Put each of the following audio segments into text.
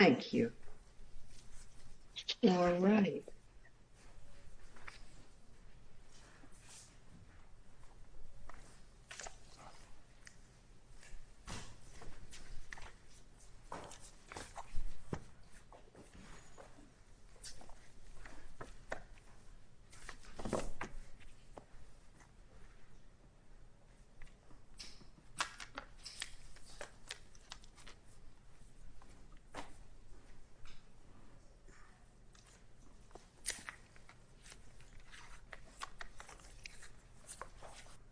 Thank you. All right.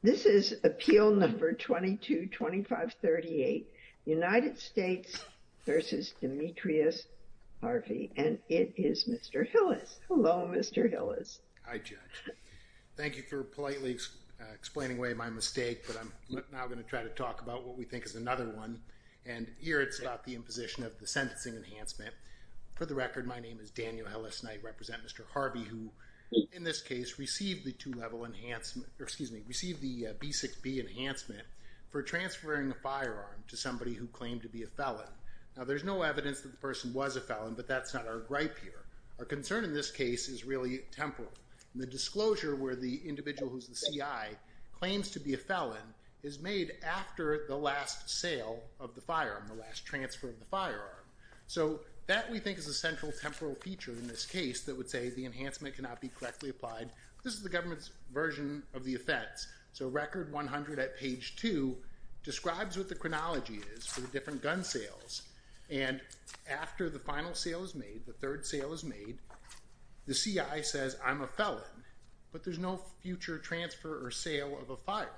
This is appeal number 222538, United States v. Demetrius Harvey, and it is Mr. Hillis. Hello, Mr. Hillis. Hi, Judge. Thank you for politely explaining away my mistake, but I'm now going to try to talk about what we think is another one. And here it's about the imposition of the sentencing enhancement. For the record, my name is Daniel Hillis, and I represent Mr. Harvey, who, in this case, received the two-level enhancement, or excuse me, received the B6B enhancement for transferring a firearm to somebody who claimed to be a felon. Now, there's no evidence that the person was a felon, but that's not our gripe here. Our concern in this case is really temporal. The disclosure where the individual who's the CI claims to be a felon is made after the last sale of the firearm, the last transfer of the firearm. So that, we think, is a central temporal feature in this case that would say the enhancement cannot be correctly applied. This is the government's version of the effects. So record 100 at page 2 describes what the chronology is for the different gun sales. And after the final sale is made, the third sale is made, the CI says, I'm a felon, but there's no future transfer or sale of a firearm.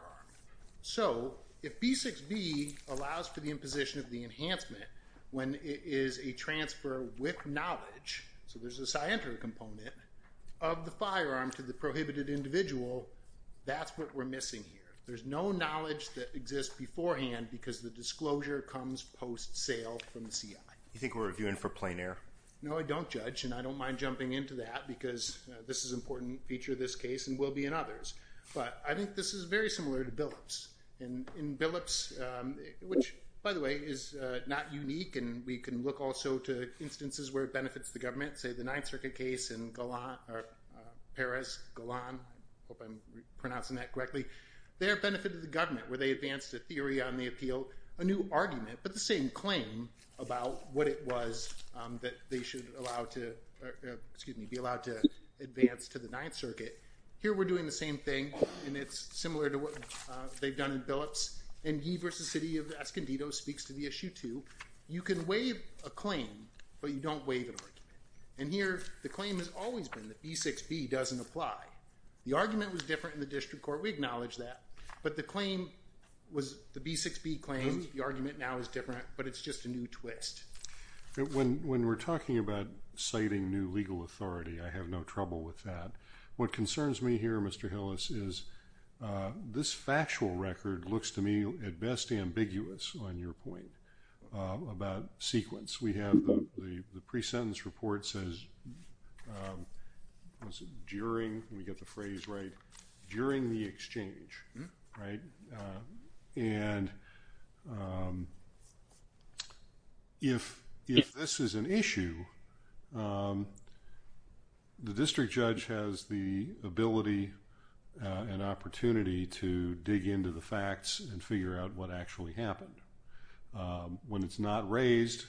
So if B6B allows for the imposition of the enhancement when it is a transfer with knowledge, so there's a scienter component, of the firearm to the prohibited individual, that's what we're missing here. There's no knowledge that exists beforehand because the disclosure comes post-sale from the CI. You think we're reviewing for plein air? No, I don't, Judge, and I don't mind jumping into that because this is an important feature of this case and will be in others. But I think this is very similar to Billups. In Billups, which, by the way, is not unique, and we can look also to instances where it benefits the government, say the Ninth Circuit case in Paris, Golan, I hope I'm pronouncing that correctly. There it benefited the government where they advanced a theory on the appeal, a new argument, but the same claim about what it was that they should allow to, excuse me, be allowed to advance to the Ninth Circuit. Here we're doing the same thing, and it's similar to what they've done in Billups. And Ye versus City of Escondido speaks to the issue, too. You can waive a claim, but you don't waive an argument. And here the claim has always been that B6B doesn't apply. The argument was different in the district court. We acknowledge that. But the claim was the B6B claim. The argument now is different, but it's just a new twist. When we're talking about citing new legal authority, I have no trouble with that. What concerns me here, Mr. Hillis, is this factual record looks to me at best ambiguous on your point about sequence. We have the pre-sentence report says during, we get the phrase right, during the exchange, right? And if this is an issue, the district judge has the ability and opportunity to dig into the facts and figure out what actually happened. When it's not raised,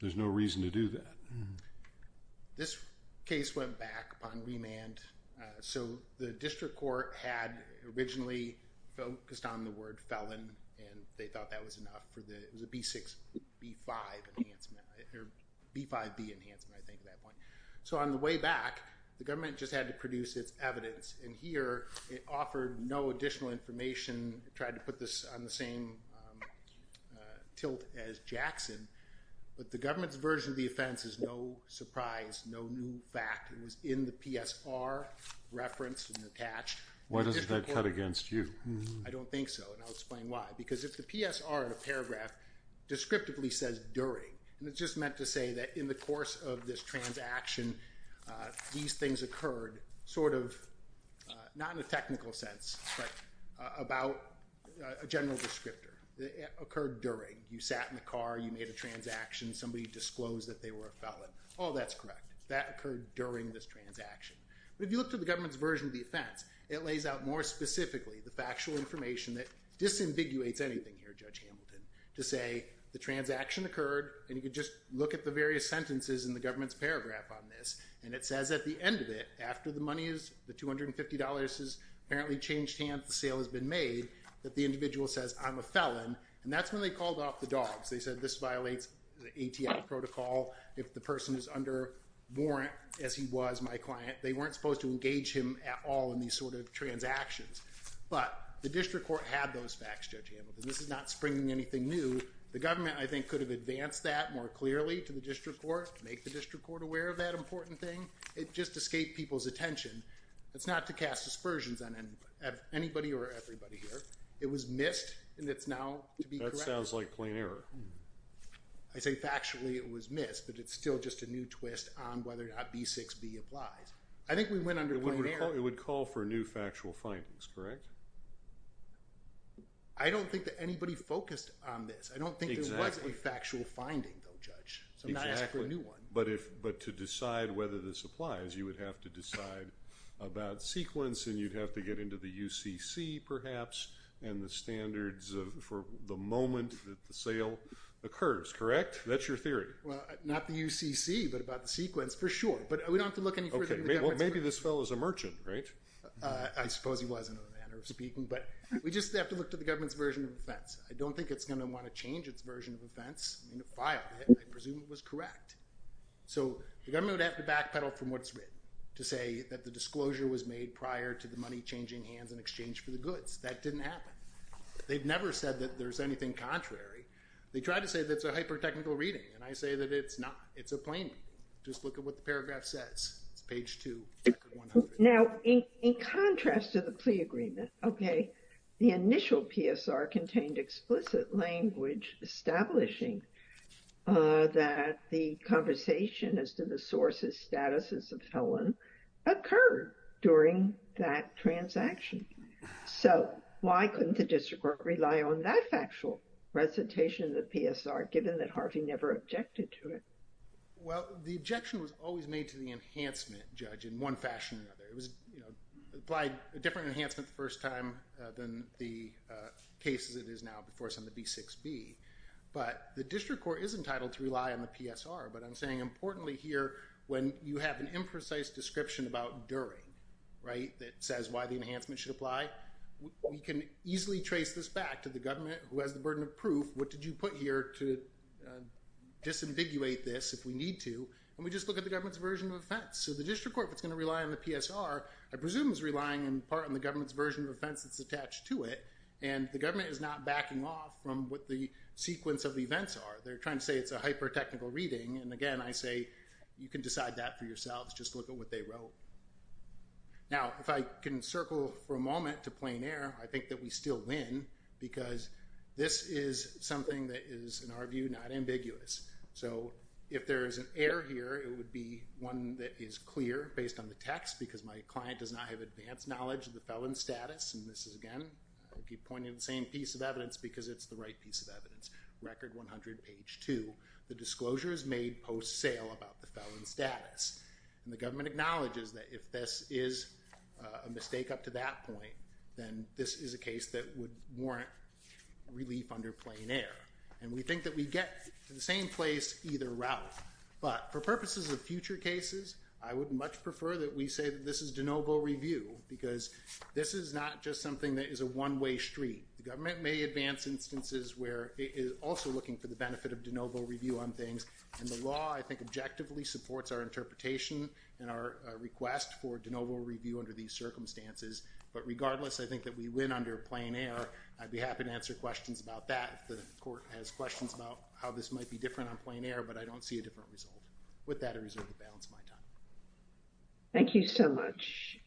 there's no reason to do that. This case went back upon remand. So the district court had originally focused on the word felon, and they thought that was enough for the B6B5 enhancement, or B5B enhancement, I think at that point. So on the way back, the government just had to produce its evidence. And here, it offered no additional information, tried to put this on the same tilt as Jackson. But the government's version of the offense is no surprise, no new fact. It was in the PSR referenced and attached. Why doesn't that cut against you? I don't think so, and I'll explain why. Because if the PSR in a paragraph descriptively says during, and it's just meant to say that in the course of this transaction, these things occurred sort of not in a technical sense, but about a general descriptor. It occurred during. You sat in the car. You made a transaction. Somebody disclosed that they were a felon. Oh, that's correct. That occurred during this transaction. But if you look to the government's version of the offense, it lays out more specifically the factual information that disambiguates anything here, Judge Hamilton, to say the transaction occurred. And you could just look at the various sentences in the government's paragraph on this. And it says at the end of it, after the money is, the $250 has apparently changed hands, the sale has been made, that the individual says, I'm a felon. And that's when they called off the dogs. They said, this violates the ATF protocol. If the person is under warrant, as he was my client, they weren't supposed to engage him at all in these sort of transactions. But the district court had those facts, Judge Hamilton. This is not springing anything new. The government, I think, could have advanced that more clearly to the district court, make the district court aware of that important thing. It just escaped people's attention. It's not to cast aspersions on anybody or everybody here. It was missed, and it's now to be corrected. That sounds like plain error. I say factually it was missed, but it's still just a new twist on whether or not B6B applies. I think we went under plain error. It would call for new factual findings, correct? I don't think that anybody focused on this. I don't think there was a factual finding, though, Judge. Exactly. So I'm not asking for a new one. But to decide whether this applies, you would have to decide about sequence, and you'd have to get into the UCC, perhaps, and the standards for the moment that the sale occurs, correct? That's your theory. Well, not the UCC, but about the sequence, for sure. But we don't have to look any further than the government. Well, maybe this fellow is a merchant, right? I suppose he was, in a manner of speaking. But we just have to look to the government's version of offense. I don't think it's going to want to change its version of offense. I mean, it filed it. I presume it was correct. So the government would have to backpedal from what's written to say that the disclosure was made prior to the money changing hands in exchange for the goods. That didn't happen. They've never said that there's anything contrary. They try to say that it's a hyper-technical reading, and I say that it's not. It's a plain reading. Just look at what the paragraph says. It's page 2, record 100. Now, in contrast to the plea agreement, okay, the initial PSR contained explicit language establishing that the conversation as to the source's status as a felon occurred during that transaction. So why couldn't the district court rely on that factual recitation of the PSR, given that Harvey never objected to it? Well, the objection was always made to the enhancement judge in one fashion or another. It was, you know, applied a different enhancement the first time than the cases it is now before us on the B6B. But the district court is entitled to rely on the PSR, but I'm saying importantly here, when you have an imprecise description about during, right, that says why the enhancement should apply, we can easily trace this back to the government, who has the burden of proof. What did you put here to disambiguate this if we need to? And we just look at the government's version of offense. So the district court that's going to rely on the PSR, I presume, is relying in part on the government's version of offense that's attached to it, and the government is not backing off from what the sequence of events are. They're trying to say it's a hyper-technical reading, and again, I say you can decide that for yourselves. Just look at what they wrote. Now, if I can circle for a moment to plain air, I think that we still win because this is something that is, in our view, not ambiguous. So if there is an error here, it would be one that is clear based on the text because my client does not have advanced knowledge of the felon status, and this is, again, I keep pointing to the same piece of evidence because it's the right piece of evidence. Record 100, page 2. The disclosure is made post-sale about the felon status, and the government acknowledges that if this is a mistake up to that point, then this is a case that would warrant relief under plain air. And we think that we get to the same place either route, but for purposes of future cases, I would much prefer that we say that this is de novo review because this is not just something that is a one-way street. The government may advance instances where it is also looking for the benefit of de novo review on things, and the law, I think, objectively supports our interpretation and our request for de novo review under these circumstances. But regardless, I think that we win under plain air. I'd be happy to answer questions about that if the court has questions about how this might be different on plain air, but I don't see a different result. With that, I reserve the balance of my time. Thank you so much.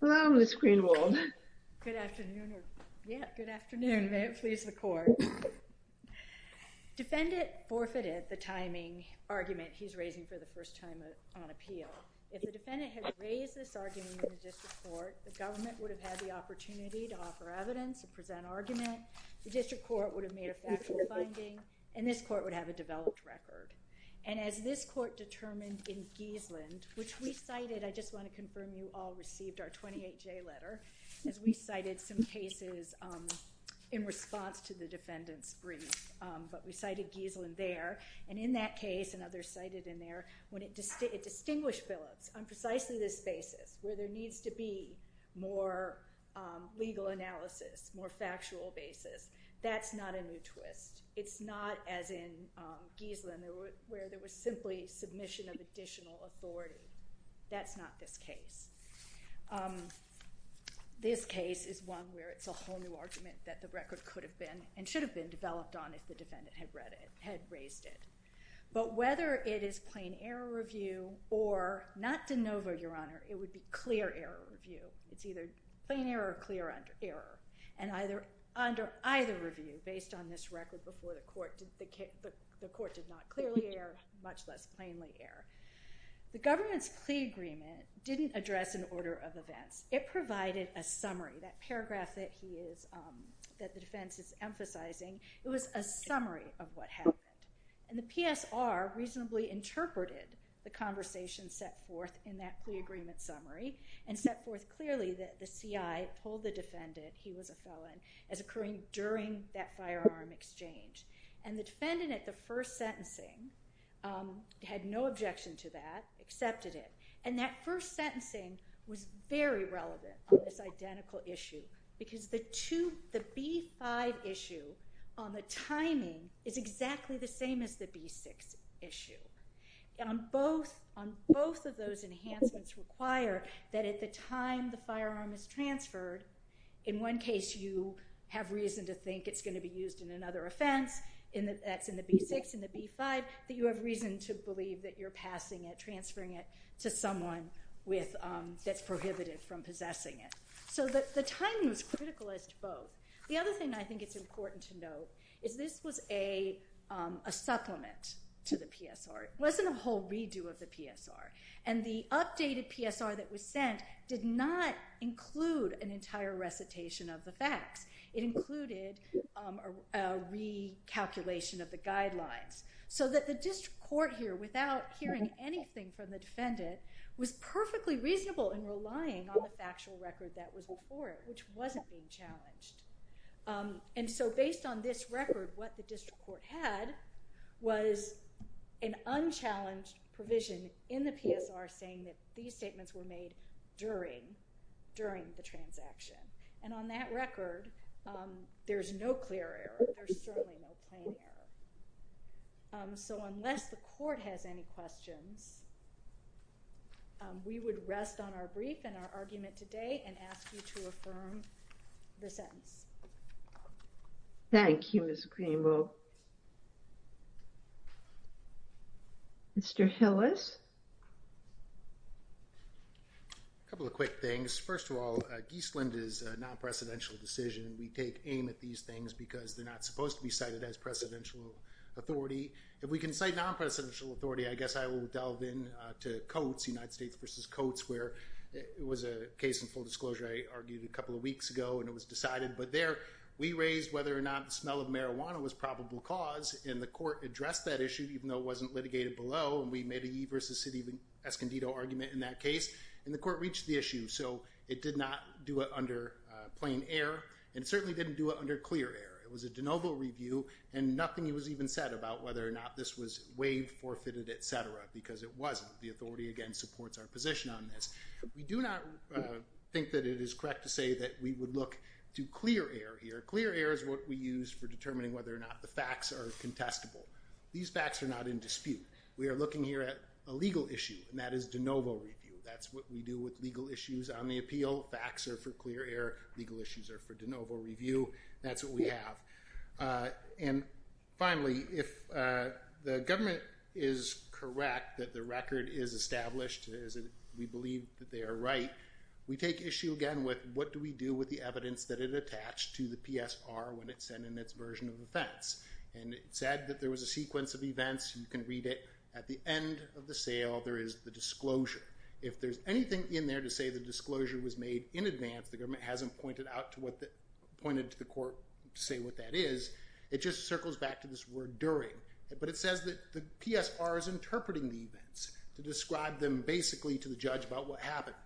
Hello, Ms. Greenwald. Good afternoon. Yeah, good afternoon. May it please the court. Defendant forfeited the timing argument he's raising for the first time on appeal. If the defendant had raised this argument in the district court, the government would have had the opportunity to offer evidence and present argument. The district court would have made a factual finding, and this court would have a developed record. And as this court determined in Geasland, which we cited, I just want to confirm you all received our 28-J letter, as we cited some cases in response to the defendant's brief. But we cited Geasland there. And in that case, and others cited in there, when it distinguished Phillips on precisely this basis, where there needs to be more legal analysis, more factual basis, that's not a new twist. It's not, as in Geasland, where there was simply submission of additional authority. That's not this case. This case is one where it's a whole new argument that the record could have been and should have been developed on if the defendant had raised it. But whether it is plain error review or not de novo, Your Honor, it would be clear error review. It's either plain error or clear error. And under either review, based on this record before the court, the court did not clearly err, much less plainly err. The government's plea agreement didn't address an order of events. It provided a summary. That paragraph that the defense is emphasizing, it was a summary of what happened. And the PSR reasonably interpreted the conversation set forth in that plea agreement summary and set forth clearly that the CI told the defendant he was a felon as occurring during that firearm exchange. And the defendant at the first sentencing had no objection to that, accepted it. And that first sentencing was very relevant on this identical issue. Because the B-5 issue on the timing is exactly the same as the B-6 issue. On both of those enhancements require that at the time the firearm is transferred, in one case you have reason to think it's going to be used in another offense, that's in the B-6, in the B-5, that you have reason to believe that you're passing it, transferring it to someone that's prohibited from possessing it. So the timing was critical as to both. The other thing I think it's important to note is this was a supplement to the PSR. It wasn't a whole redo of the PSR. And the updated PSR that was sent did not include an entire recitation of the facts. It included a recalculation of the guidelines. So that the district court here, without hearing anything from the defendant, was perfectly reasonable in relying on the factual record that was before it, which wasn't being challenged. And so based on this record, what the district court had was an unchallenged provision in the PSR saying that these statements were made during the transaction. And on that record, there's no clear error. There's certainly no plain error. So unless the court has any questions, we would rest on our brief and our argument today and ask you to affirm the sentence. Thank you, Ms. Greenville. Mr. Hillis? A couple of quick things. First of all, Giesland is a non-presidential decision. We take aim at these things because they're not supposed to be cited as presidential authority. If we can cite non-presidential authority, I guess I will delve in to Coates, United States v. Coates, where it was a case in full disclosure, I argued, a couple of weeks ago. And it was decided. But there, we raised whether or not the smell of marijuana was probable cause. And the court addressed that issue, even though it wasn't litigated below. And we made a Yee v. City of Escondido argument in that case. And the court reached the issue. So it did not do it under plain error. And it certainly didn't do it under clear error. It was a de novo review. And nothing was even said about whether or not this was waived, forfeited, et cetera, because it wasn't. The authority, again, supports our position on this. We do not think that it is correct to say that we would look to clear error here. Clear error is what we use for determining whether or not the facts are contestable. These facts are not in dispute. We are looking here at a legal issue, and that is de novo review. That's what we do with legal issues on the appeal. Facts are for clear error. Legal issues are for de novo review. That's what we have. And finally, if the government is correct that the record is established, we believe that they are right, we take issue again with what do we do with the evidence that it attached to the PSR when it sent in its version of offense. And it said that there was a sequence of events. You can read it. At the end of the sale, there is the disclosure. If there's anything in there to say the disclosure was made in advance, the government hasn't pointed to the court to say what that is. It just circles back to this word during. But it says that the PSR is interpreting the events to describe them basically to the judge about what happened.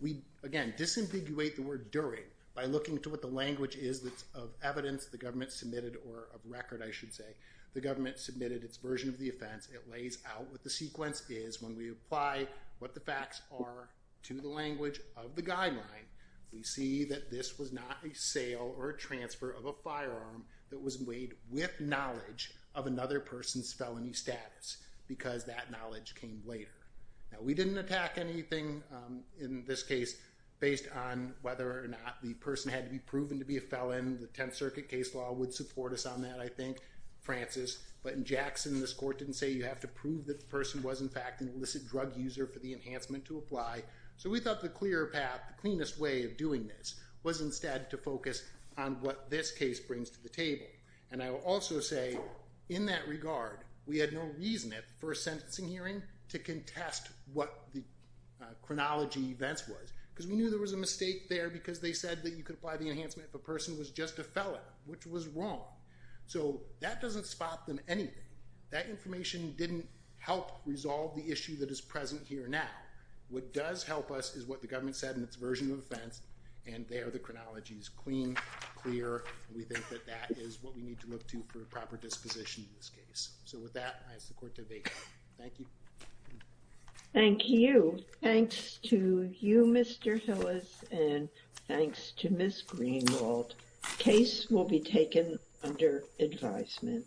We, again, disambiguate the word during by looking to what the language is of evidence the government submitted or of record, I should say. The government submitted its version of the offense. It lays out what the sequence is. When we apply what the facts are to the language of the guideline, we see that this was not a sale or a transfer of a firearm that was made with knowledge of another person's felony status because that knowledge came later. Now, we didn't attack anything in this case based on whether or not the person had to be proven to be a felon. The Tenth Circuit case law would support us on that, I think, Francis. But in Jackson, this court didn't say you have to prove that the person was, in fact, an illicit drug user for the enhancement to apply. So we thought the clear path, the cleanest way of doing this was instead to focus on what this case brings to the table. And I will also say, in that regard, we had no reason at the first sentencing hearing to contest what the chronology events was because we knew there was a mistake there because they said that you could apply the enhancement if a person was just a felon, which was wrong. So that doesn't spot them anything. That information didn't help resolve the issue that is present here now. What does help us is what the government said in its version of offense, and there the chronology is clean, clear. We think that that is what we need to look to for proper disposition in this case. So with that, I ask the court to vacate. Thank you. Thank you. Thanks to you, Mr. Hillis, and thanks to Ms. Greenwald. The case will be taken under advisement.